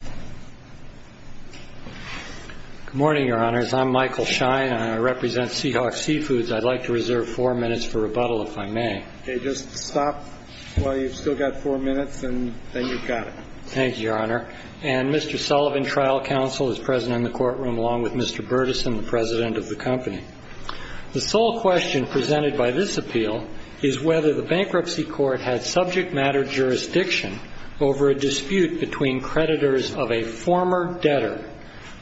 Good morning, your honors. I'm Michael Schein and I represent Seahawk Seafoods. I'd like to reserve four minutes for rebuttal if I may. Okay, just stop while you've still got four minutes and then you've got it. Thank you, your honor. And Mr. Sullivan, trial counsel, is present in the courtroom along with Mr. Burtis and the president of the company. The sole question presented by this appeal is whether the bankruptcy court had subject matter jurisdiction over a dispute between creditors of a former debtor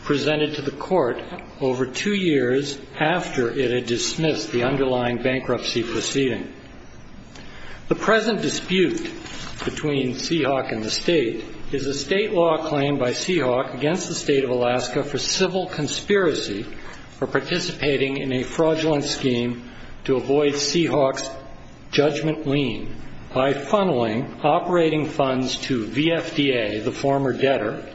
presented to the court over two years after it had dismissed the underlying bankruptcy proceeding. The present dispute between Seahawk and the state is a state law claim by Seahawk against the state of Alaska for civil conspiracy for participating in a fraudulent scheme to avoid Seahawk's judgment lien by funneling operating funds to VFDA, the former debtor,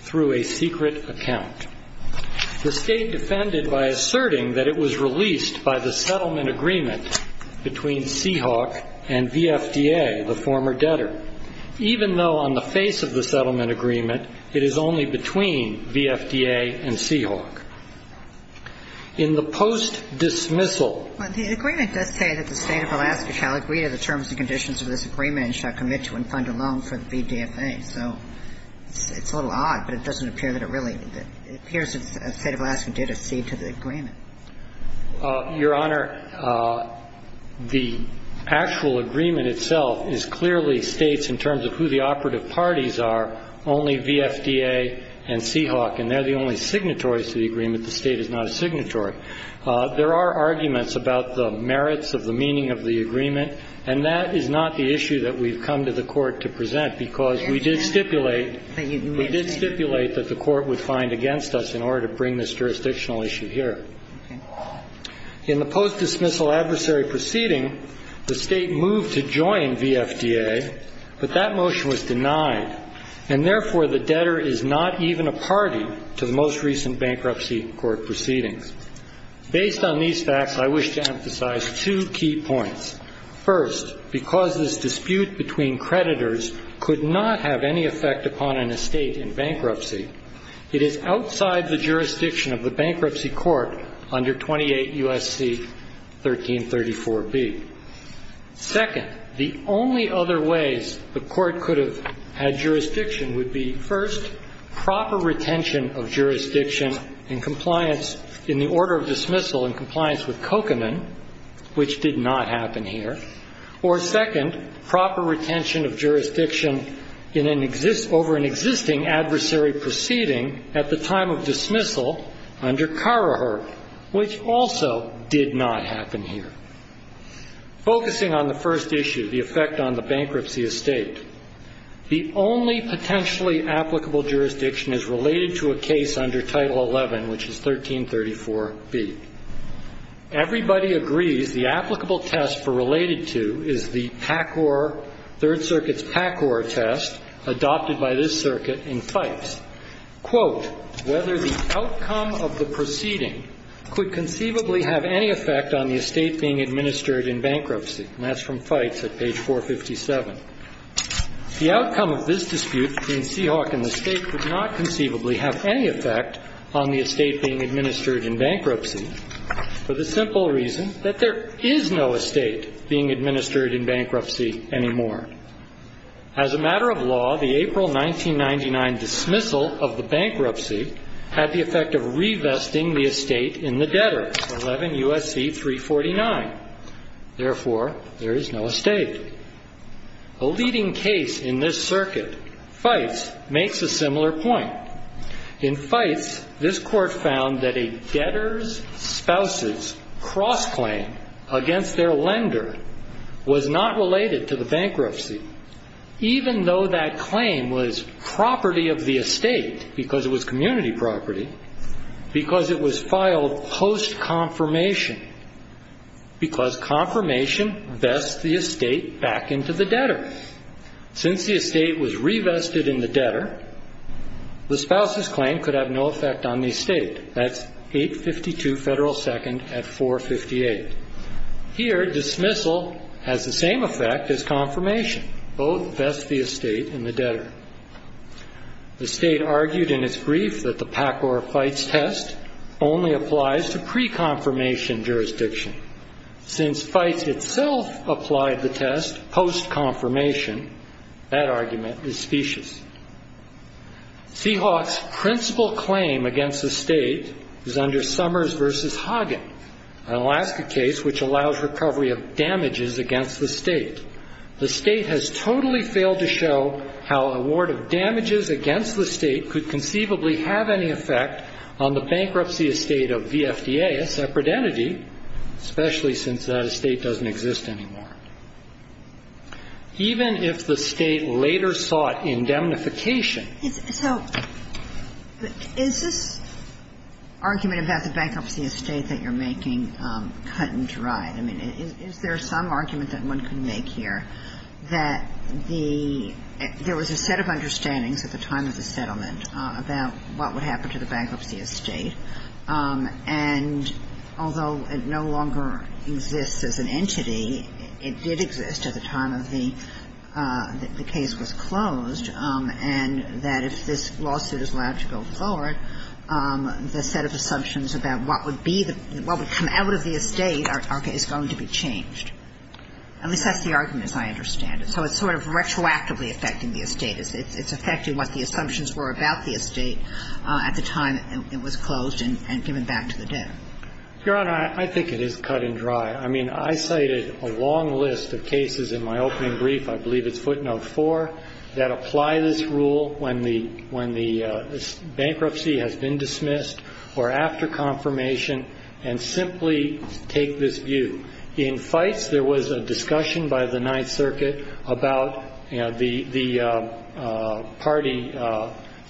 through a secret account. The state defended by asserting that it was released by the settlement agreement between Seahawk and VFDA, the former debtor, even though on the face of the settlement agreement it is only between VFDA and Seahawk. In the post-dismissal. The agreement does say that the state of Alaska shall agree to the terms and conditions of this agreement and shall commit to and fund a loan for the VDFA. So it's a little odd, but it doesn't appear that it really appears that the state of Alaska did accede to the agreement. Your Honor, the actual agreement itself is clearly states in terms of who the operative parties are only VFDA and Seahawk, and they're the only signatories to the agreement. The state is not a signatory. There are arguments about the merits of the meaning of the agreement, and that is not the issue that we've come to the Court to present because we did stipulate that the Court would find against us in order to bring this jurisdictional issue here. In the post-dismissal adversary proceeding, the state moved to join VFDA, but that motion was denied, and therefore the debtor is not even a party to the most recent bankruptcy court proceedings. Based on these facts, I wish to emphasize two key points. First, because this dispute between creditors could not have any effect upon an estate in bankruptcy, it is outside the jurisdiction of the bankruptcy court under 28 U.S.C. 1334b. Second, the only other ways the Court could have had jurisdiction would be, first, proper retention of jurisdiction in compliance in the order of dismissal in compliance with Kokerman, which did not happen here, or, second, proper retention of jurisdiction over an existing adversary proceeding at the time of dismissal under Carraher, which also did not happen here. Focusing on the first issue, the effect on the bankruptcy estate, the only potentially applicable jurisdiction is related to a case under Title 11, which is 1334b. Everybody agrees the applicable test for related to is the PACOR, Third Circuit's PACOR test adopted by this circuit in Fites. Quote, whether the outcome of the proceeding could conceivably have any effect on the estate being administered in bankruptcy. And that's from Fites at page 457. The outcome of this dispute between Seahawk and the State could not conceivably have any effect on the estate being administered in bankruptcy for the simple reason that there is no estate being administered in bankruptcy anymore. As a matter of law, the April 1999 dismissal of the bankruptcy had the effect of revesting the estate in the debtor, 11 U.S.C. 349. Therefore, there is no estate. A leading case in this circuit, Fites, makes a similar point. In Fites, this court found that a debtor's spouse's cross-claim against their lender was not related to the bankruptcy, even though that claim was property of the estate because it was community property, because it was filed post-confirmation, because confirmation vests the estate back into the debtor. Since the estate was revested in the debtor, the spouse's claim could have no effect on the estate. That's 852 Federal 2nd at 458. Here, dismissal has the same effect as confirmation. Both vest the estate in the debtor. The state argued in its brief that the PACOR Fites test only applies to pre-confirmation jurisdiction. Since Fites itself applied the test post-confirmation, that argument is specious. Seahawks' principal claim against the state is under Summers v. Hagen, an Alaska case which allows recovery of damages against the state. The state has totally failed to show how a ward of damages against the state could conceivably have any effect on the bankruptcy estate of VFDA, a separate entity, especially since that estate doesn't exist anymore. Even if the state later sought indemnification. So is this argument about the bankruptcy estate that you're making cut and dry? I mean, is there some argument that one can make here that the – there was a set of understandings at the time of the settlement about what would happen to the bankruptcy estate, and although it no longer exists as an entity, it did exist at the time of the – the case was closed, and that if this lawsuit is allowed to go forward, the set of assumptions about what would be the – what would come out of the estate is going to be changed. At least that's the argument, as I understand it. So it's sort of retroactively affecting the estate. It's affecting what the assumptions were about the estate at the time it was closed and given back to the debt. Your Honor, I think it is cut and dry. I mean, I cited a long list of cases in my opening brief, I believe it's footnote four, that apply this rule when the bankruptcy has been dismissed or after confirmation and simply take this view. In Fites, there was a discussion by the Ninth Circuit about the party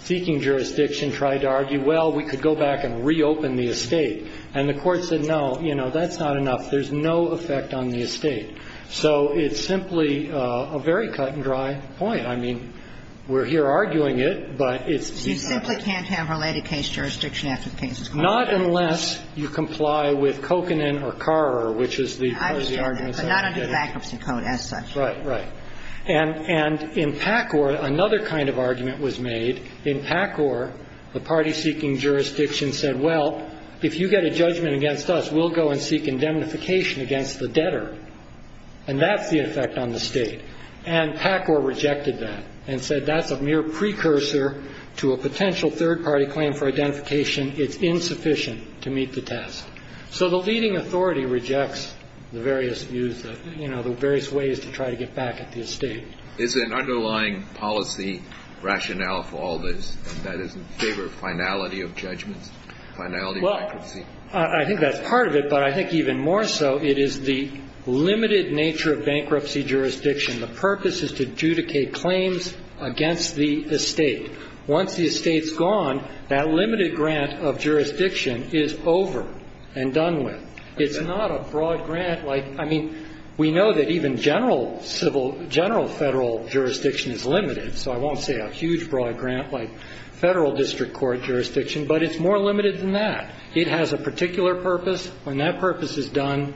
seeking jurisdiction tried to argue, well, we could go back and reopen the estate. And the court said, no, you know, that's not enough. There's no effect on the estate. So it's simply a very cut and dry point. I mean, we're here arguing it, but it's the opposite. So you simply can't have related case jurisdiction after the case is closed? Not unless you comply with kokanen or carrer, which is the argument. I understand that, but not under the bankruptcy code as such. Right, right. And in Pacor, another kind of argument was made. In Pacor, the party seeking jurisdiction said, well, if you get a judgment against us, we'll go and seek indemnification against the debtor. And that's the effect on the state. And Pacor rejected that and said that's a mere precursor to a potential third-party claim for identification. It's insufficient to meet the task. So the leading authority rejects the various views, you know, the various ways to try to get back at the estate. Is there an underlying policy rationale for all this that is in favor of finality of judgments, finality of bankruptcy? I think that's part of it. But I think even more so, it is the limited nature of bankruptcy jurisdiction. The purpose is to adjudicate claims against the estate. Once the estate's gone, that limited grant of jurisdiction is over and done with. It's not a broad grant like – I mean, we know that even general federal jurisdiction is limited, so I won't say a huge broad grant like Federal District Court jurisdiction, but it's more limited than that. It has a particular purpose. When that purpose is done,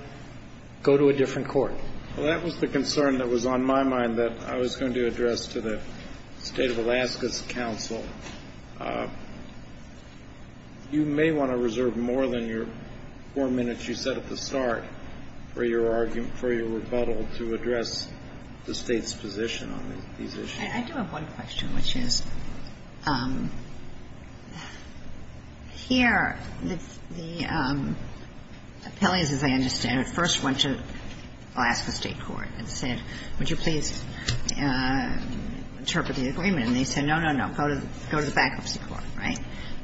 go to a different court. Well, that was the concern that was on my mind that I was going to address to the State of Alaska's counsel. You may want to reserve more than your four minutes you said at the start for your argument, for your rebuttal to address the State's position on these issues. I do have one question, which is, here, the appellees, as I understand it, first went to Alaska State court and said, would you please interpret the agreement? And they said, no, no, no, go to the bankruptcy court, right?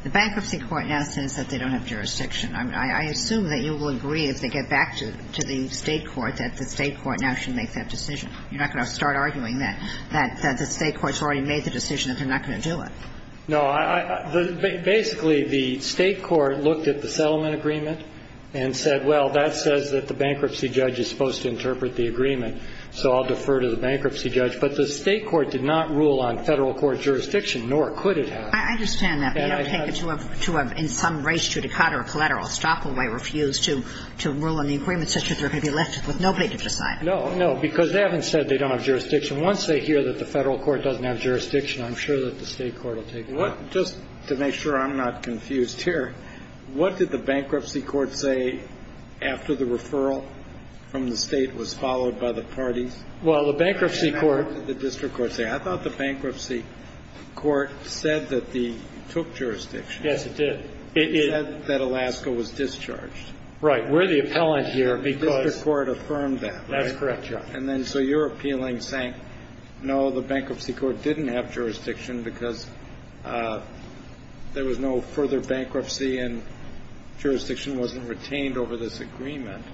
The bankruptcy court now says that they don't have jurisdiction. I assume that you will agree, if they get back to the State court, that the State court now should make that decision. You're not going to start arguing that the State court's already made the decision that they're not going to do it. No. Basically, the State court looked at the settlement agreement and said, well, that says that the bankruptcy judge is supposed to interpret the agreement, so I'll defer to the bankruptcy judge. But the State court did not rule on Federal court jurisdiction, nor could it have. I understand that. They don't take it to a – in some race to a decatur of collateral. Stoppaway refused to rule on the agreement such that they're going to be left with nobody to decide. No, no, because they haven't said they don't have jurisdiction. Once they hear that the Federal court doesn't have jurisdiction, I'm sure that the State court will take it. Well, just to make sure I'm not confused here, what did the bankruptcy court say after the referral from the State was followed by the parties? Well, the bankruptcy court – What did the district court say? I thought the bankruptcy court said that they took jurisdiction. Yes, it did. It said that Alaska was discharged. Right. We're the appellant here because – The district court affirmed that, right? That's correct, Your Honor. And then so you're appealing saying, no, the bankruptcy court didn't have jurisdiction because there was no further bankruptcy and jurisdiction wasn't retained over this agreement.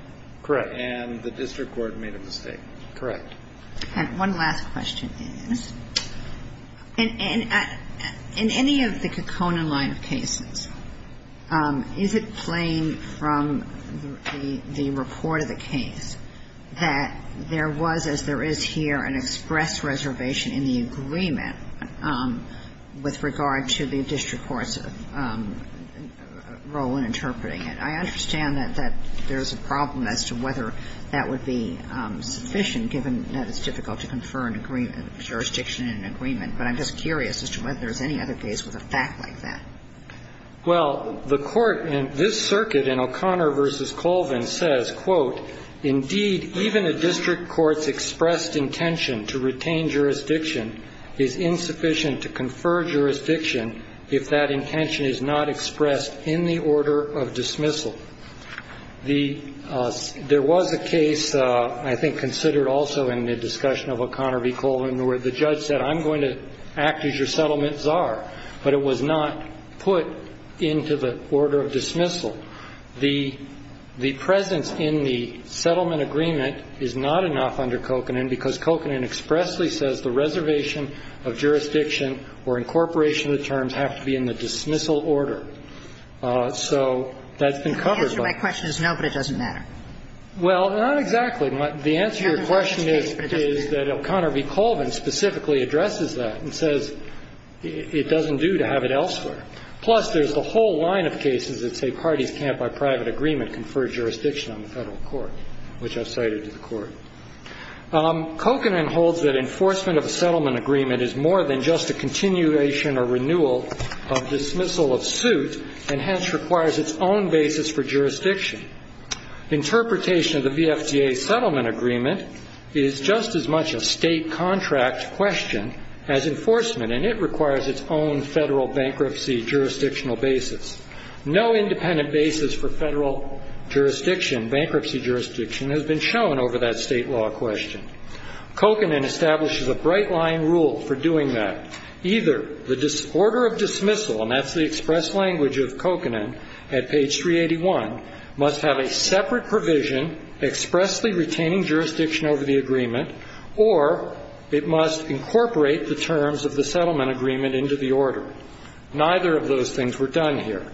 Correct. And the district court made a mistake. Correct. All right. One last question, please. In any of the Kekona line of cases, is it plain from the report of the case that there was, as there is here, an express reservation in the agreement with regard to the district court's role in interpreting it? I understand that there's a problem as to whether that would be sufficient given that it's difficult to confer jurisdiction in an agreement. But I'm just curious as to whether there's any other case with a fact like that. Well, the court in this circuit in O'Connor v. Colvin says, quote, Indeed, even a district court's expressed intention to retain jurisdiction is insufficient to confer jurisdiction if that intention is not expressed in the order of dismissal. There was a case I think considered also in the discussion of O'Connor v. Colvin where the judge said, I'm going to act as your settlement czar, but it was not put into the order of dismissal. The presence in the settlement agreement is not enough under Kokanen because Kokanen expressly says the reservation of jurisdiction or incorporation of the terms have to be in the dismissal order. So that's been covered by the court. The answer to my question is no, but it doesn't matter. Well, not exactly. The answer to your question is that O'Connor v. Colvin specifically addresses that and says it doesn't do to have it elsewhere. Plus, there's the whole line of cases that say parties can't by private agreement confer jurisdiction on the Federal court, which I've cited to the Court. Kokanen holds that enforcement of a settlement agreement is more than just a continuation or renewal of dismissal of suit and hence requires its own basis for jurisdiction. Interpretation of the VFDA settlement agreement is just as much a state contract question as enforcement, and it requires its own Federal bankruptcy jurisdictional basis. No independent basis for Federal jurisdiction, bankruptcy jurisdiction, has been shown over that state law question. Kokanen establishes a bright line rule for doing that. Either the order of dismissal, and that's the express language of Kokanen at page 381, must have a separate provision expressly retaining jurisdiction over the agreement or it must incorporate the terms of the settlement agreement into the order. Neither of those things were done here.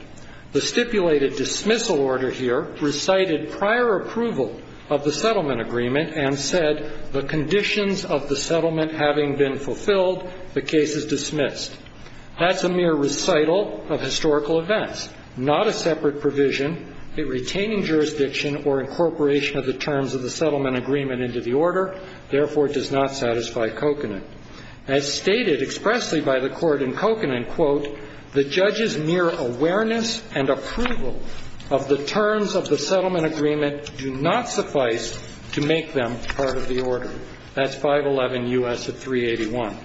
The stipulated dismissal order here recited prior approval of the settlement agreement and said the conditions of the settlement having been fulfilled, the case is dismissed. That's a mere recital of historical events, not a separate provision, a retaining jurisdiction or incorporation of the terms of the settlement agreement into the order. Therefore, it does not satisfy Kokanen. As stated expressly by the Court in Kokanen, quote, the judge's mere awareness and approval of the terms of the settlement agreement do not suffice to make them part of the order. That's 511 U.S. of 381.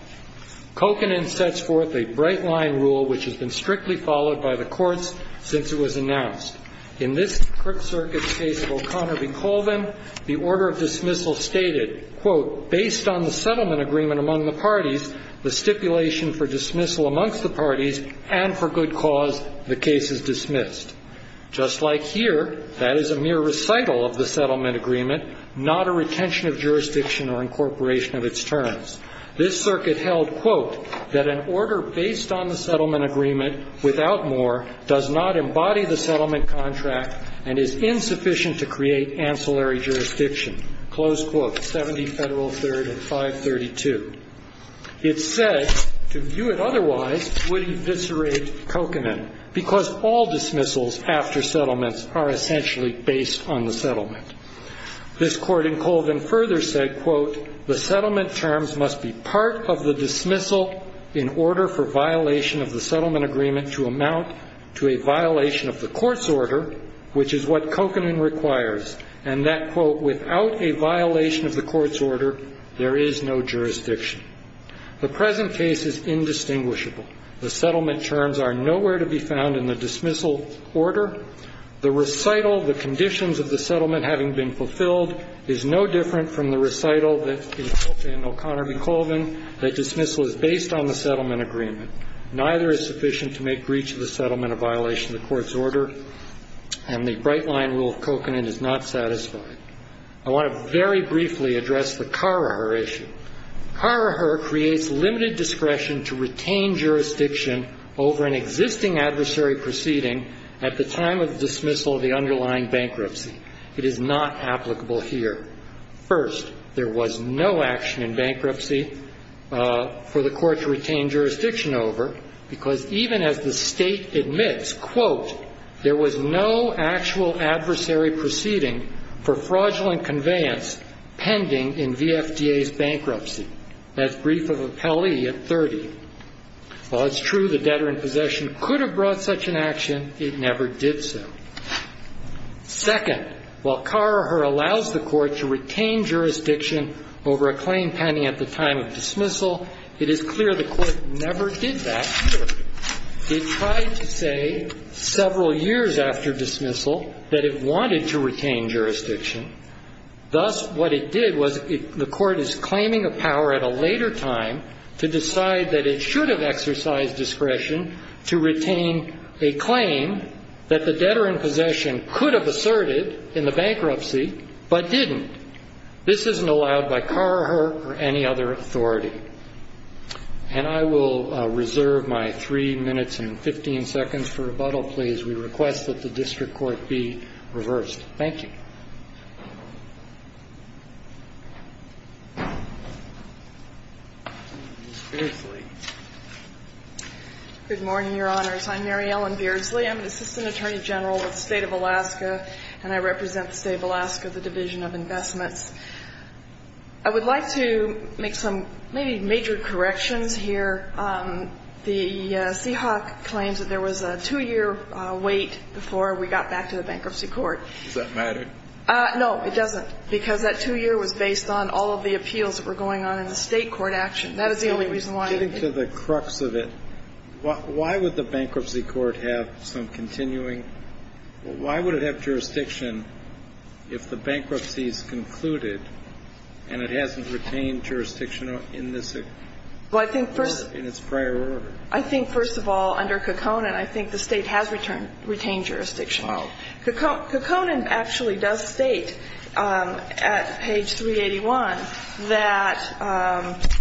Kokanen sets forth a bright line rule which has been strictly followed by the courts since it was announced. In this circuit case of O'Connor v. Colvin, the order of dismissal stated, quote, based on the settlement agreement among the parties, the stipulation for dismissal amongst the parties and for good cause, the case is dismissed. Just like here, that is a mere recital of the settlement agreement, not a retention of jurisdiction or incorporation of its terms. This circuit held, quote, that an order based on the settlement agreement without more does not embody the settlement contract and is insufficient to create ancillary jurisdiction. Close quote, 70 Federal 3rd and 532. It's said to view it otherwise would eviscerate Kokanen because all dismissals after settlements are essentially based on the settlement. This court in Colvin further said, quote, the settlement terms must be part of the dismissal in order for violation of the settlement agreement to amount to a violation of the court's order, which is what Kokanen requires, and that, quote, without a violation of the court's order, there is no jurisdiction. The present case is indistinguishable. The settlement terms are nowhere to be found in the dismissal order. The recital, the conditions of the settlement having been fulfilled, is no different from the recital in O'Connor v. Colvin, that dismissal is based on the settlement agreement. Neither is sufficient to make breach of the settlement a violation of the court's order, and the bright-line rule of Kokanen is not satisfied. I want to very briefly address the Karrher issue. Karrher creates limited discretion to retain jurisdiction over an existing adversary proceeding at the time of dismissal of the underlying bankruptcy. It is not applicable here. First, there was no action in bankruptcy for the court to retain jurisdiction over because even as the State admits, quote, there was no actual adversary proceeding for fraudulent conveyance pending in the FDA's bankruptcy as brief of appellee at 30. While it's true the debtor in possession could have brought such an action, it never did so. Second, while Karrher allows the court to retain jurisdiction over a claim pending at the time of dismissal, it is clear the court never did that. It tried to say several years after dismissal that it wanted to retain jurisdiction. Thus, what it did was the court is claiming a power at a later time to decide that it should have exercised discretion to retain a claim that the debtor in possession could have asserted in the bankruptcy but didn't. This isn't allowed by Karrher or any other authority. And I will reserve my 3 minutes and 15 seconds for rebuttal, please. We request that the district court be reversed. Thank you. Ms. Beardsley. Good morning, Your Honors. I'm Mary Ellen Beardsley. I'm an Assistant Attorney General with the State of Alaska, and I represent the State of Alaska, the Division of Investments. I would like to make some maybe major corrections here. The Seahawk claims that there was a two-year wait before we got back to the bankruptcy court. Does that matter? No, it doesn't, because that two-year was based on all of the appeals that were going on in the State court action. That is the only reason why. Getting to the crux of it, why would the bankruptcy court have some continuing why would it have jurisdiction if the bankruptcy is concluded and it hasn't retained jurisdiction in this prior order? I think, first of all, under Cacone, and I think the State has retained jurisdiction. Cacone actually does state at page 381 that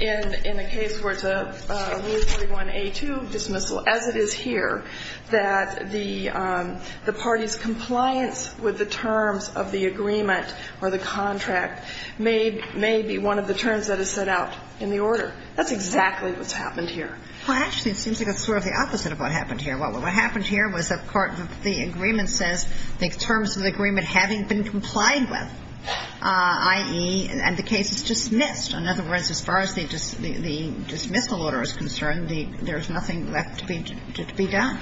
in a case where it's a Rule 31A2 dismissal, as it is here, that the party's compliance with the terms of the agreement or the contract may be one of the terms that is set out in the order. That's exactly what's happened here. Well, actually, it seems like it's sort of the opposite of what happened here. What happened here was the agreement says the terms of the agreement having been complied with, i.e., and the case is dismissed. In other words, as far as the dismissal order is concerned, there's nothing left to be done.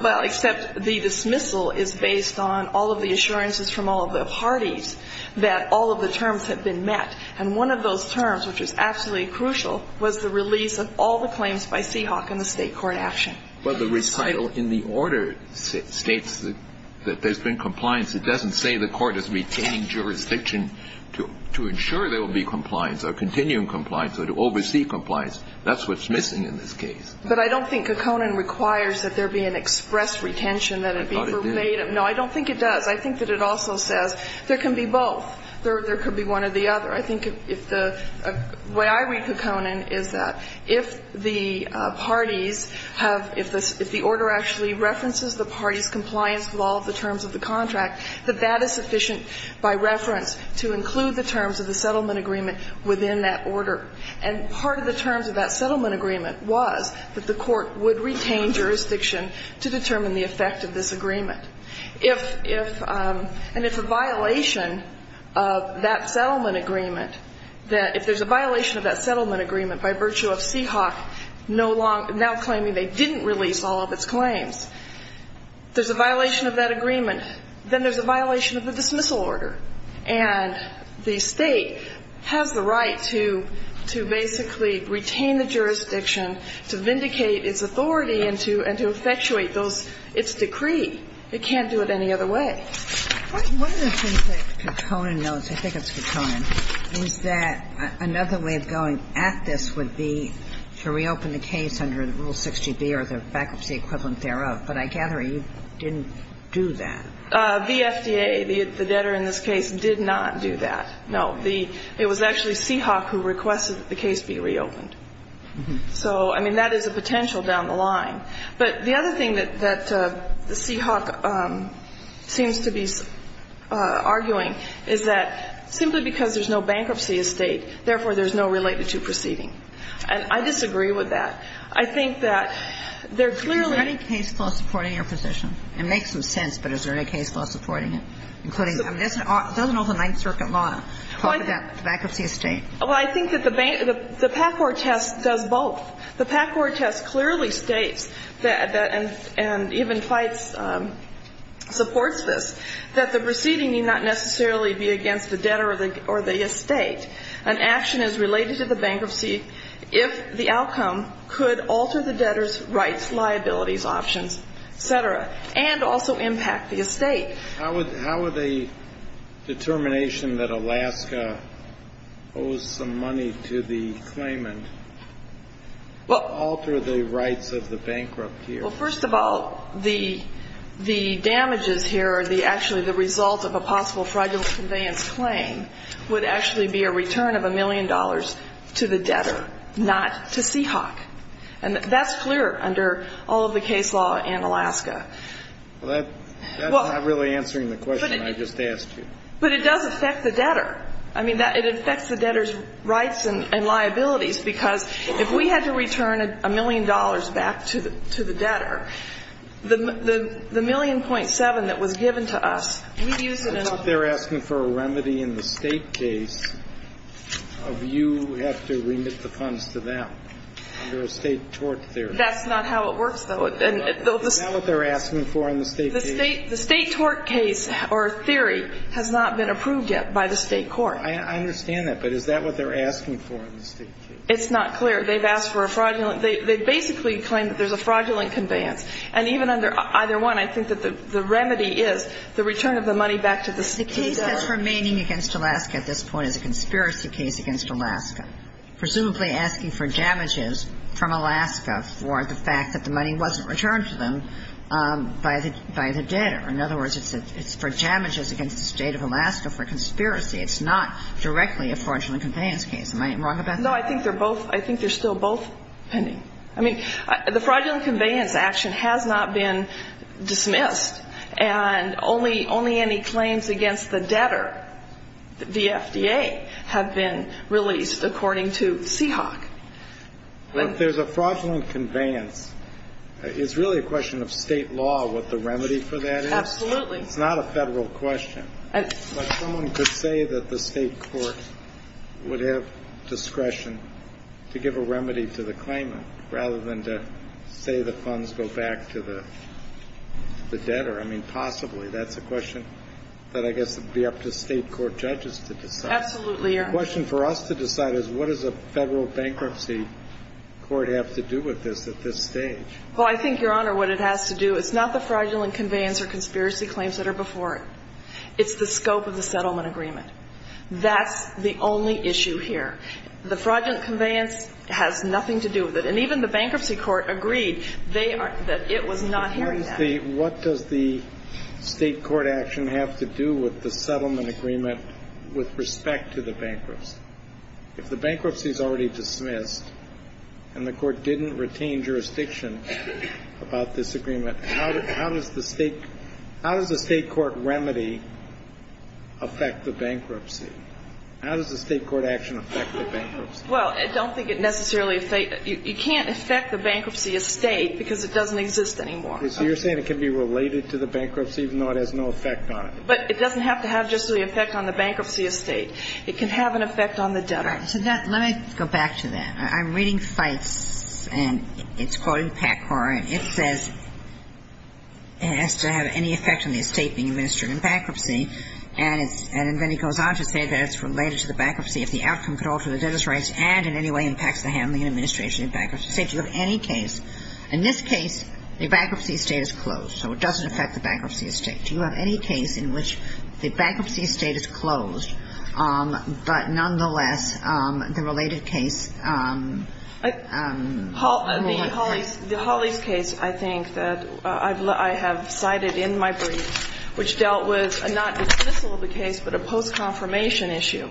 Well, except the dismissal is based on all of the assurances from all of the parties that all of the terms have been met. And one of those terms, which is absolutely crucial, was the release of all the claims by Seahawk in the State court action. Well, the recital in the order states that there's been compliance. It doesn't say the Court is retaining jurisdiction to ensure there will be compliance or continuing compliance or to oversee compliance. That's what's missing in this case. But I don't think Cacone requires that there be an express retention, that it be verbatim. I thought it did. No, I don't think it does. I think that it also says there can be both. There could be one or the other. I think if the way I read Cacone is that if the parties have, if the order actually references the parties' compliance with all of the terms of the contract, that that is sufficient by reference to include the terms of the settlement agreement within that order. And part of the terms of that settlement agreement was that the Court would retain jurisdiction to determine the effect of this agreement. If, and if a violation of that settlement agreement, that if there's a violation of that settlement agreement by virtue of Seahawk now claiming they didn't release all of its claims, there's a violation of that agreement, then there's a violation of the dismissal order. And the State has the right to basically retain the jurisdiction, to vindicate its authority and to effectuate those, its decree. It can't do it any other way. Kagan. One of the things that Cacone knows, I think it's Cacone, is that another way of going at this would be to reopen the case under Rule 60B or the bankruptcy equivalent thereof. But I gather you didn't do that. The FDA, the debtor in this case, did not do that. No. It was actually Seahawk who requested that the case be reopened. So, I mean, that is a potential down the line. But the other thing that Seahawk seems to be arguing is that simply because there's no bankruptcy estate, therefore, there's no related to proceeding. And I disagree with that. I think that there clearly are. Kagan. Is there any case law supporting your position? It makes some sense, but is there any case law supporting it, including? I mean, doesn't all the Ninth Circuit law talk about bankruptcy estate? Well, I think that the PACOR test does both. The PACOR test clearly states, and even FITES supports this, that the proceeding need not necessarily be against the debtor or the estate. An action is related to the bankruptcy if the outcome could alter the debtor's rights, liabilities, options, et cetera, and also impact the estate. How would the determination that Alaska owes some money to the claimant alter the rights of the bankrupt here? Well, first of all, the damages here are actually the result of a possible fraudulent conveyance claim would actually be a return of a million dollars to the debtor, not to Seahawk. And that's clear under all of the case law in Alaska. Well, that's not really answering the question I just asked you. But it does affect the debtor. I mean, it affects the debtor's rights and liabilities, because if we had to return a million dollars back to the debtor, the million .7 that was given to us, we'd use it in other ways. I thought they were asking for a remedy in the State case of you have to remit the funds to them under a State tort theory. That's not how it works, though. Is that what they're asking for in the State case? The State tort case or theory has not been approved yet by the State court. I understand that. But is that what they're asking for in the State case? It's not clear. They've asked for a fraudulent. They basically claim that there's a fraudulent conveyance. And even under either one, I think that the remedy is the return of the money back to the debtor. The case that's remaining against Alaska at this point is a conspiracy case against Alaska, presumably asking for damages from Alaska for the fact that the money wasn't returned to them by the debtor. In other words, it's for damages against the State of Alaska for conspiracy. It's not directly a fraudulent conveyance case. Am I wrong about that? No, I think they're both – I think they're still both pending. I mean, the fraudulent conveyance action has not been dismissed, and only any claims against the debtor, the FDA, have been released according to Seahawk. If there's a fraudulent conveyance, it's really a question of State law, what the remedy for that is. Absolutely. It's not a Federal question. But someone could say that the State court would have discretion to give a remedy to the claimant rather than to say the funds go back to the debtor. I mean, possibly. That's a question that I guess would be up to State court judges to decide. Absolutely, Your Honor. The question for us to decide is what does a Federal bankruptcy court have to do with this at this stage? Well, I think, Your Honor, what it has to do – it's not the fraudulent conveyance or conspiracy claims that are before it. It's the scope of the settlement agreement. That's the only issue here. The fraudulent conveyance has nothing to do with it. And even the bankruptcy court agreed that it was not hearing that. What does the State court action have to do with the settlement agreement with respect to the bankruptcy? If the bankruptcy is already dismissed and the court didn't retain jurisdiction about this agreement, how does the State – how does the State court remedy affect the bankruptcy? How does the State court action affect the bankruptcy? Well, I don't think it necessarily – you can't affect the bankruptcy as State because it doesn't exist anymore. So you're saying it can be related to the bankruptcy even though it has no effect on it? But it doesn't have to have just the effect on the bankruptcy as State. It can have an effect on the debtor. All right. So let me go back to that. I'm reading Feitz, and it's quoted in PACCOR, and it says it has to have any effect on the estate being administered in bankruptcy. And it's – and then he goes on to say that it's related to the bankruptcy if the outcome could alter the debtor's rights and in any way impacts the handling and administration of bankruptcy as State. Do you have any case – in this case, the bankruptcy as State is closed. So it doesn't affect the bankruptcy as State. Do you have any case in which the bankruptcy as State is closed, but nonetheless the related case – The Hollies case, I think, that I have cited in my briefs, which dealt with not a dismissal of the case, but a post-confirmation issue.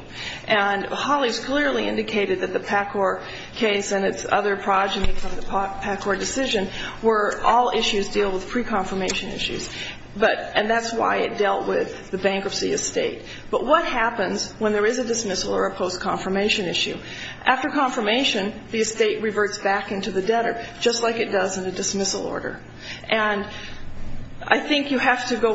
And Hollies clearly indicated that the PACCOR case and its other progeny from the PACCOR decision were all issues dealing with pre-confirmation issues. But – and that's why it dealt with the bankruptcy as State. But what happens when there is a dismissal or a post-confirmation issue? After confirmation, the estate reverts back into the debtor, just like it does in a dismissal order. And I think you have to go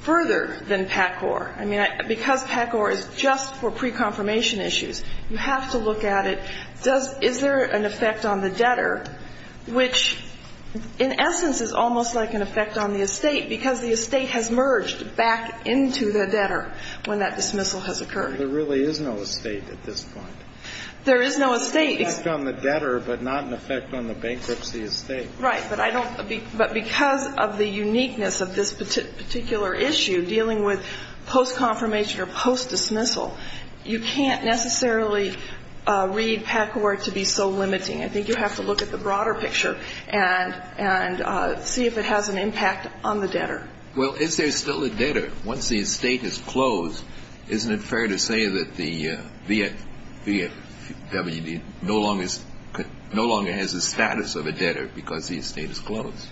further than PACCOR. I mean, because PACCOR is just for pre-confirmation issues, you have to look at it. Does – is there an effect on the debtor, which in essence is almost like an effect on the estate, because the estate has merged back into the debtor when that dismissal has occurred? There really is no estate at this point. There is no estate. It's an effect on the debtor, but not an effect on the bankruptcy as State. Right. But I don't – but because of the uniqueness of this particular issue, dealing with post-confirmation or post-dismissal, you can't necessarily read PACCOR to be so limiting. I think you have to look at the broader picture and see if it has an impact on the debtor. Well, is there still a debtor? Once the estate is closed, isn't it fair to say that the VFWD no longer has the status of a debtor because the estate is closed?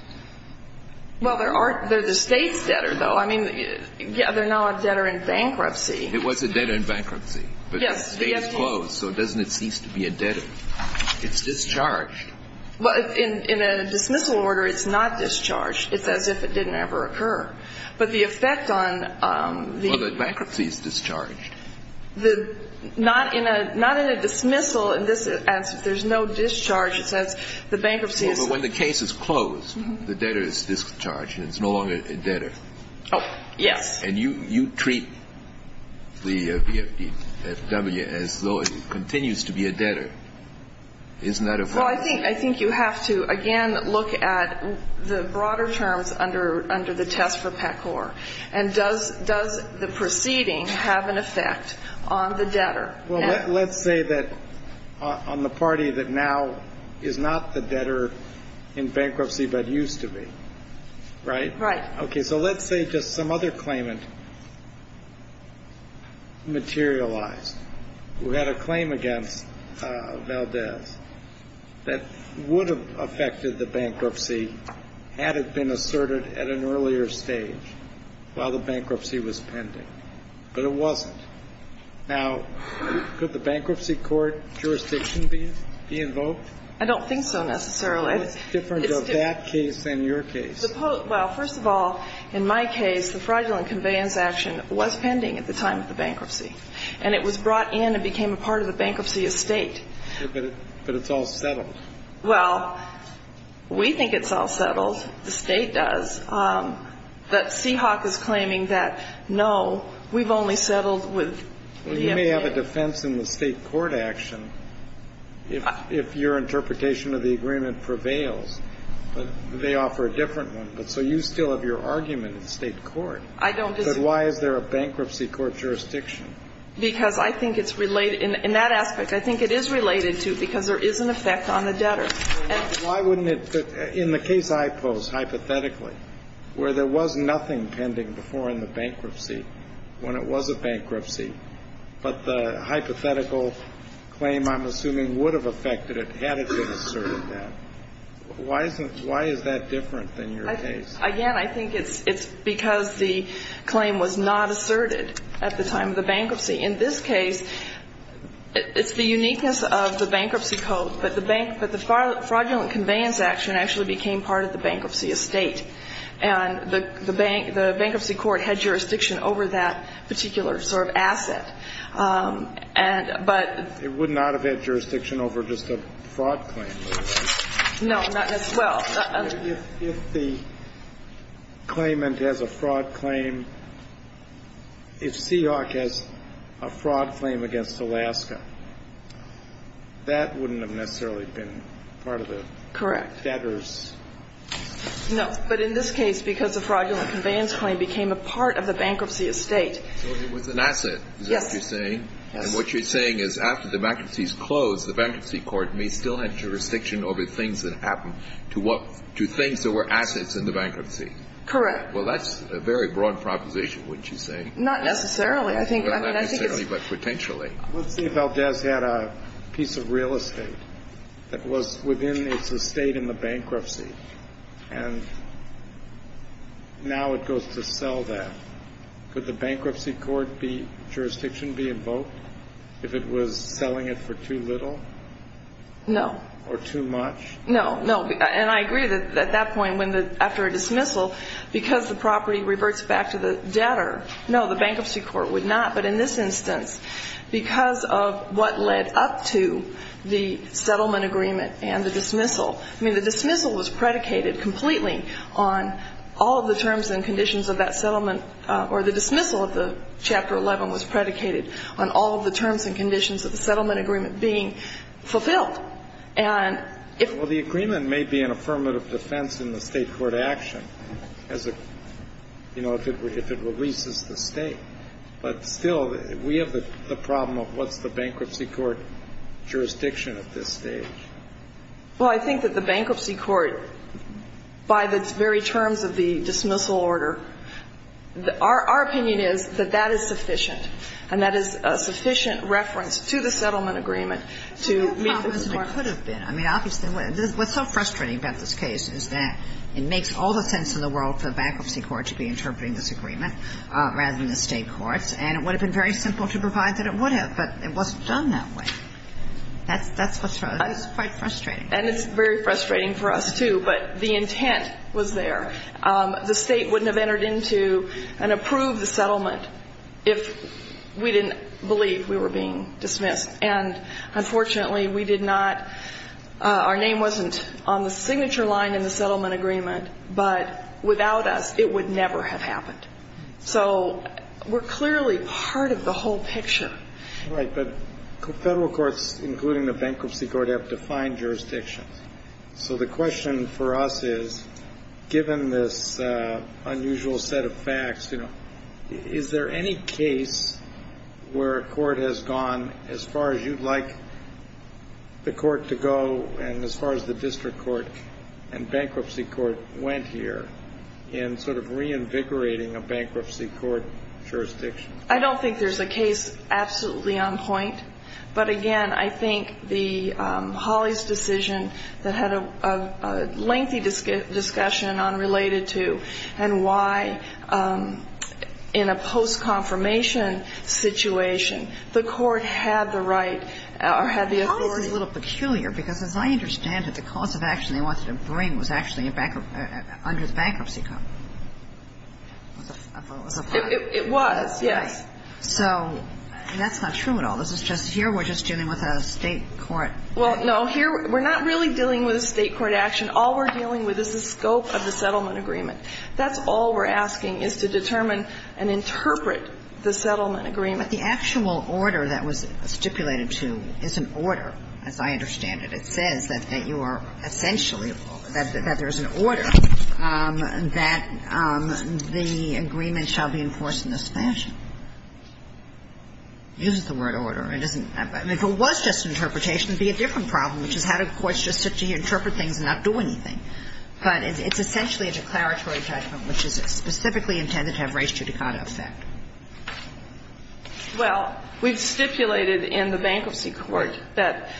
Well, there are – they're the State's debtor, though. I mean, yeah, they're now a debtor in bankruptcy. It was a debtor in bankruptcy. Yes. But the estate is closed, so doesn't it cease to be a debtor? It's discharged. Well, in a dismissal order, it's not discharged. It's as if it didn't ever occur. But the effect on the – Well, the bankruptcy is discharged. The – not in a – not in a dismissal. In this – there's no discharge. It says the bankruptcy is – Well, but when the case is closed, the debtor is discharged, and it's no longer a debtor. Oh, yes. And you treat the VFW as though it continues to be a debtor. Isn't that a violation? Well, I think you have to, again, look at the broader terms under the test for PACOR. And does the proceeding have an effect on the debtor? Well, let's say that on the party that now is not the debtor in bankruptcy but used to be. Right? Right. Okay, so let's say just some other claimant materialized who had a claim against Valdez that would have affected the bankruptcy had it been asserted at an earlier stage while the bankruptcy was pending, but it wasn't. Now, could the bankruptcy court jurisdiction be invoked? I don't think so, necessarily. What's the difference of that case and your case? Well, first of all, in my case, the fraudulent conveyance action was pending at the time of the bankruptcy. And it was brought in and became a part of the bankruptcy estate. But it's all settled. Well, we think it's all settled. The State does. But Seahawk is claiming that, no, we've only settled with the VFW. Well, you may have a defense in the State court action if your interpretation of the agreement prevails. But they offer a different one. So you still have your argument in the State court. I don't. But why is there a bankruptcy court jurisdiction? Because I think it's related. In that aspect, I think it is related to because there is an effect on the debtor. Why wouldn't it? In the case I pose, hypothetically, where there was nothing pending before in the bankruptcy when it was a bankruptcy, but the hypothetical claim, I'm assuming, would have affected had it been asserted then. Why is that different than your case? Again, I think it's because the claim was not asserted at the time of the bankruptcy. In this case, it's the uniqueness of the bankruptcy code. But the fraudulent conveyance action actually became part of the bankruptcy estate. And the bankruptcy court had jurisdiction over that particular sort of asset. It would not have had jurisdiction over just a fraud claim. No, not as well. If the claimant has a fraud claim, if Seahawk has a fraud claim against Alaska, that wouldn't have necessarily been part of the debtors. Correct. No, but in this case, because the fraudulent conveyance claim became a part of the bankruptcy estate. So it was an asset. Yes. Is that what you're saying? Yes. And what you're saying is after the bankruptcies closed, the bankruptcy court may still have jurisdiction over things that happened to things that were assets in the bankruptcy. Correct. Well, that's a very broad proposition, wouldn't you say? Not necessarily. Not necessarily, but potentially. Let's say Valdez had a piece of real estate that was within its estate in the bankruptcy. And now it goes to sell that. Could the bankruptcy court jurisdiction be invoked if it was selling it for too little? No. Or too much? No, no. And I agree that at that point after a dismissal, because the property reverts back to the debtor, no, the bankruptcy court would not. But in this instance, because of what led up to the settlement agreement and the dismissal, I mean, the dismissal was predicated completely on all of the terms and conditions of that settlement, or the dismissal of the Chapter 11 was predicated on all of the terms and conditions of the settlement agreement being fulfilled. Well, the agreement may be an affirmative defense in the state court action, you know, if it releases the state. But still, we have the problem of what's the bankruptcy court jurisdiction at this stage? Well, I think that the bankruptcy court, by the very terms of the dismissal order, our opinion is that that is sufficient. And that is a sufficient reference to the settlement agreement to meet the court. What a problem it could have been. I mean, obviously, what's so frustrating about this case is that it makes all the sense in the world for the bankruptcy court to be interpreting this agreement rather than the state courts. And it would have been very simple to provide that it would have, but it wasn't done that way. That's what's wrong. It's quite frustrating. And it's very frustrating for us, too. But the intent was there. The state wouldn't have entered into and approved the settlement if we didn't believe we were being dismissed. And unfortunately, we did not. Our name wasn't on the signature line in the settlement agreement, but without us, it would never have happened. So we're clearly part of the whole picture. Right, but federal courts, including the bankruptcy court, have defined jurisdictions. So the question for us is, given this unusual set of facts, is there any case where a court has gone as far as you'd like the court to go and as far as the district court and bankruptcy court went here in sort of reinvigorating a bankruptcy court jurisdiction? I don't think there's a case absolutely on point. But again, I think Holly's decision that had a lengthy discussion on related to and why in a post-confirmation situation, the court had the right or had the authority. Holly's is a little peculiar because, as I understand it, the cause of action they wanted to bring was actually under the bankruptcy code. It was, yes. So that's not true at all. This is just here we're just dealing with a State court. Well, no. Here we're not really dealing with a State court action. All we're dealing with is the scope of the settlement agreement. That's all we're asking is to determine and interpret the settlement agreement. But the actual order that was stipulated to is an order, as I understand it. It says that you are essentially, that there's an order that the agreement shall be enforced in this fashion. It uses the word order. It doesn't – I mean, if it was just interpretation, it would be a different problem, which is how do courts just sit here and interpret things and not do anything. But it's essentially a declaratory judgment, which is specifically intended to have res judicata effect. Well, we've stipulated in the Bankruptcy Court that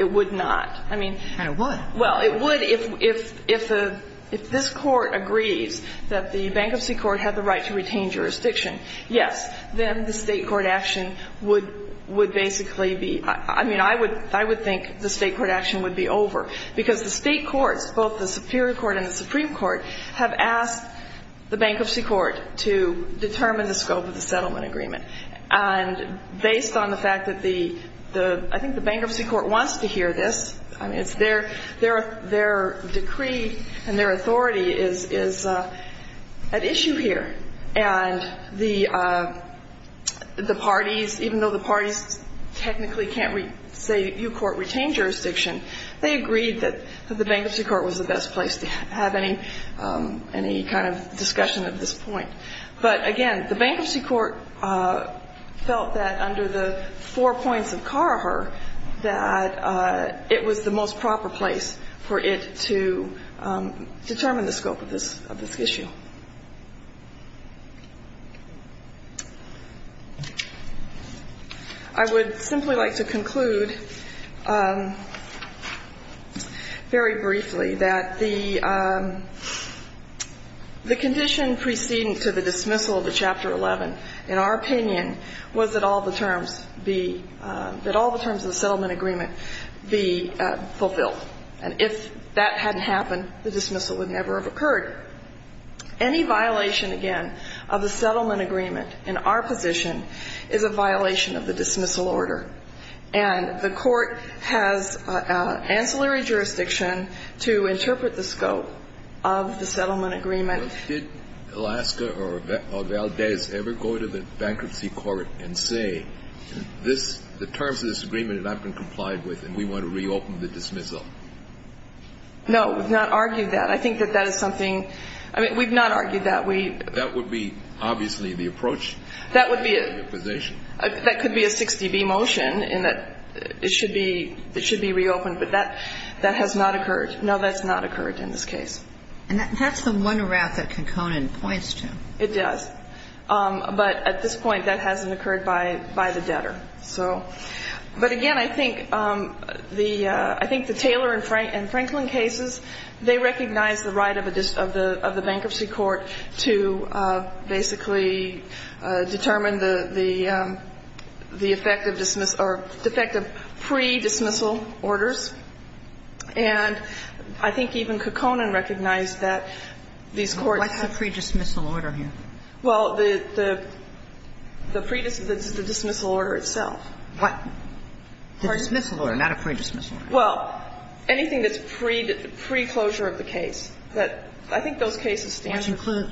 it would not. I mean – And it would. Well, it would if the – if this Court agrees that the Bankruptcy Court had the right to retain jurisdiction, yes, then the State court action would basically be – I mean, I would think the State court action would be over, because the State courts, both the Superior Court and the Supreme Court, have asked the Bankruptcy Court to determine the scope of the settlement agreement. And based on the fact that the – I think the Bankruptcy Court wants to hear this. I mean, it's their – their decree and their authority is at issue here. And the parties, even though the parties technically can't say you court retained jurisdiction, they agreed that the Bankruptcy Court was the best place to have any kind of discussion of this point. But, again, the Bankruptcy Court felt that under the four points of Carher that it was the most proper place for it to determine the scope of this – of this issue. I would simply like to conclude very briefly that the condition preceding to the dismissal of the Chapter 11, in our opinion, was that all the terms be – that all the terms of the settlement agreement be fulfilled. And if that hadn't happened, the dismissal would never have occurred. Any violation, again, of the settlement agreement in our position is a violation of the dismissal order. And the Court has ancillary jurisdiction to interpret the scope of the settlement agreement. Did Alaska or Valdez ever go to the Bankruptcy Court and say, this – the terms of this agreement have not been complied with and we want to reopen the dismissal? No. We've not argued that. And I think that that is something – I mean, we've not argued that. We – That would be, obviously, the approach. That would be a – To the position. That could be a 6dB motion in that it should be – it should be reopened. But that – that has not occurred. No, that's not occurred in this case. And that's the one route that Conconin points to. It does. But at this point, that hasn't occurred by – by the debtor. So – but, again, I think the – I think the Taylor and Franklin cases, they recognize the right of a – of the Bankruptcy Court to basically determine the – the effect of dismissal – or the effect of pre-dismissal orders. And I think even Conconin recognized that these courts have – What's the pre-dismissal order here? Well, the – the dismissal order itself. What? The dismissal order, not a pre-dismissal order. Well, anything that's pre – pre-closure of the case, that – I think those cases stand – Which include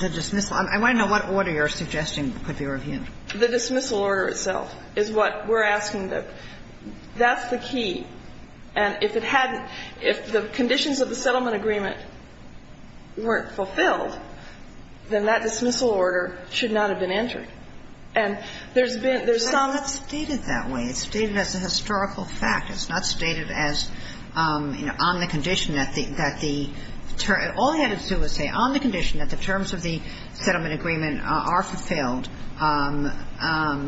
the dismissal. I want to know what order you're suggesting could be reviewed. The dismissal order itself is what we're asking. That's the key. And if it hadn't – if the conditions of the settlement agreement weren't fulfilled, then that dismissal order should not have been entered. And there's been – there's some – It's not stated that way. It's stated as a historical fact. It's not stated as, you know, on the condition that the – all he had to do was say, on the condition that the terms of the settlement agreement are fulfilled,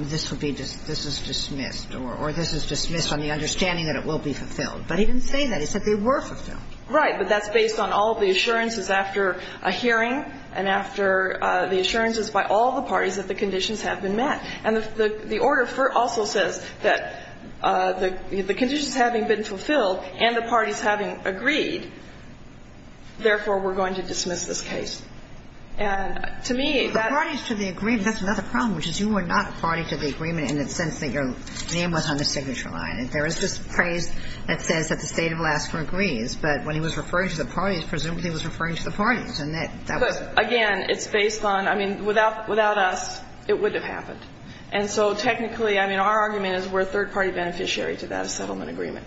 this would be – this is dismissed, or this is dismissed on the understanding that it will be fulfilled. But he didn't say that. He said they were fulfilled. Right. But that's based on all the assurances after a hearing and after the assurances by all the parties that the conditions have been met. And the order also says that the conditions having been fulfilled and the parties having agreed, therefore, we're going to dismiss this case. And to me, that – The parties to the agreement, that's another problem, which is you were not a party to the agreement in the sense that your name was on the signature line. There is this phrase that says that the State of Alaska agrees, but when he was referring to the parties, presumably he was referring to the parties, and that was – Again, it's based on – I mean, without us, it wouldn't have happened. And so technically, I mean, our argument is we're a third-party beneficiary to that settlement agreement.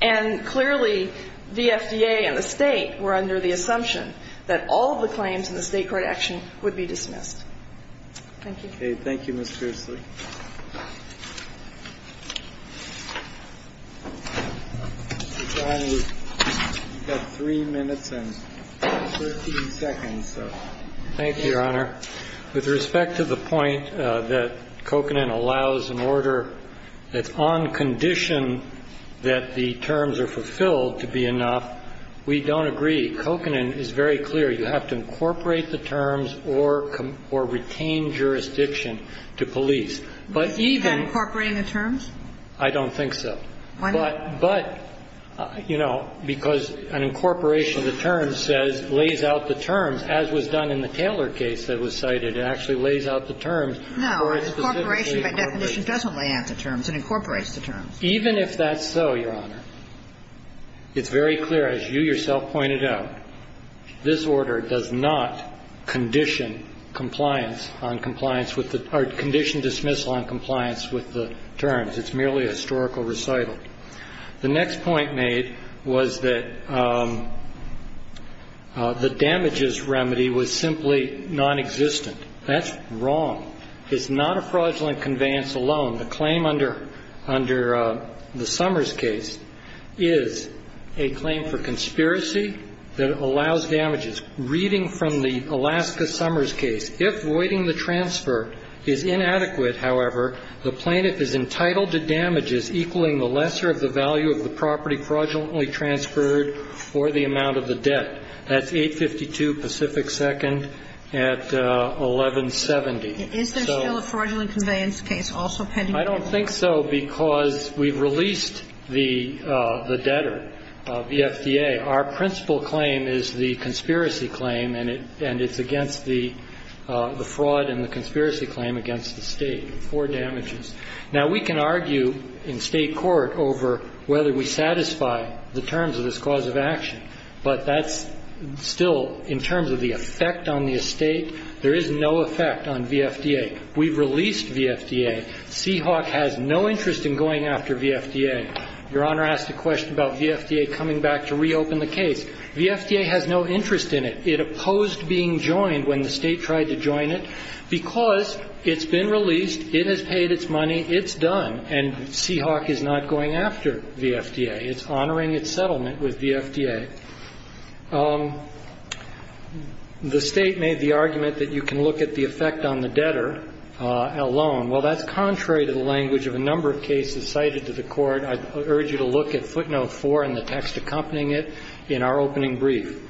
And clearly, the FDA and the State were under the assumption that all of the claims in the State court action would be dismissed. Thank you. Okay. Thank you, Ms. Pursley. Mr. Connolly, you've got 3 minutes and 13 seconds, so. Thank you, Your Honor. With respect to the point that Kokanen allows an order that's on condition that the terms are fulfilled to be enough, we don't agree. Kokanen is very clear. You have to incorporate the terms or retain jurisdiction to police. But even – Is he not incorporating the terms? I don't think so. Why not? But, you know, because an incorporation of the terms says, lays out the terms, as was done in the Taylor case that was cited. It actually lays out the terms for a specific case. No. Incorporation by definition doesn't lay out the terms. It incorporates the terms. Even if that's so, Your Honor, it's very clear, as you yourself pointed out, this order does not condition compliance on compliance with the – or condition dismissal on compliance with the terms. It's merely a historical recital. The next point made was that the damages remedy was simply nonexistent. That's wrong. It's not a fraudulent conveyance alone. The claim under the Summers case is a claim for conspiracy that allows damages. Reading from the Alaska Summers case, if voiding the transfer is inadequate, however, the plaintiff is entitled to damages equaling the lesser of the value of the property fraudulently transferred for the amount of the debt. That's 852 Pacific Second at 1170. Is there still a fraudulent conveyance case also pending? I don't think so because we've released the debtor, VFDA. Our principal claim is the conspiracy claim, and it's against the fraud and the conspiracy claim against the State for damages. Now, we can argue in State court over whether we satisfy the terms of this cause of action, but that's still, in terms of the effect on the Estate, there is no effect on VFDA. We've released VFDA. Seahawk has no interest in going after VFDA. Your Honor asked a question about VFDA coming back to reopen the case. VFDA has no interest in it. It opposed being joined when the State tried to join it because it's been released, it has paid its money, it's done, and Seahawk is not going after VFDA. It's honoring its settlement with VFDA. The State made the argument that you can look at the effect on the debtor alone. Well, that's contrary to the language of a number of cases cited to the Court. I urge you to look at footnote 4 and the text accompanying it in our opening brief.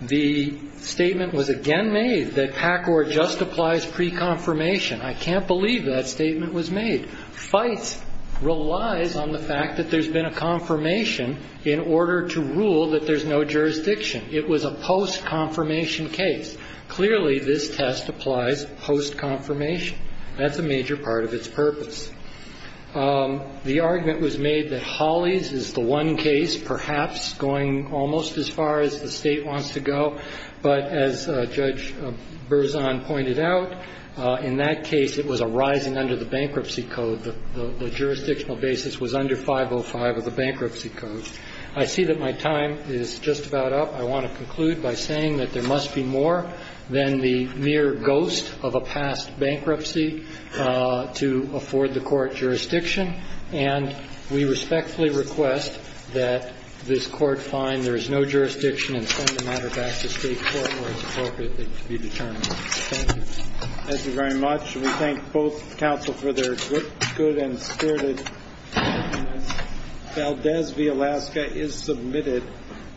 The statement was again made that PACOR just applies pre-confirmation. I can't believe that statement was made. FITE relies on the fact that there's been a confirmation in order to rule that there's no jurisdiction. It was a post-confirmation case. Clearly, this test applies post-confirmation. That's a major part of its purpose. The argument was made that Hollies is the one case perhaps going almost as far as the State wants to go, but as Judge Berzon pointed out, in that case, it was a rising under the bankruptcy code. The jurisdictional basis was under 505 of the bankruptcy code. I see that my time is just about up. I want to conclude by saying that there must be more than the mere ghost of a past bankruptcy to afford the Court jurisdiction, and we respectfully request that this be determined. Thank you. Thank you very much. We thank both counsel for their good and spirited comments. Valdez v. Alaska is submitted.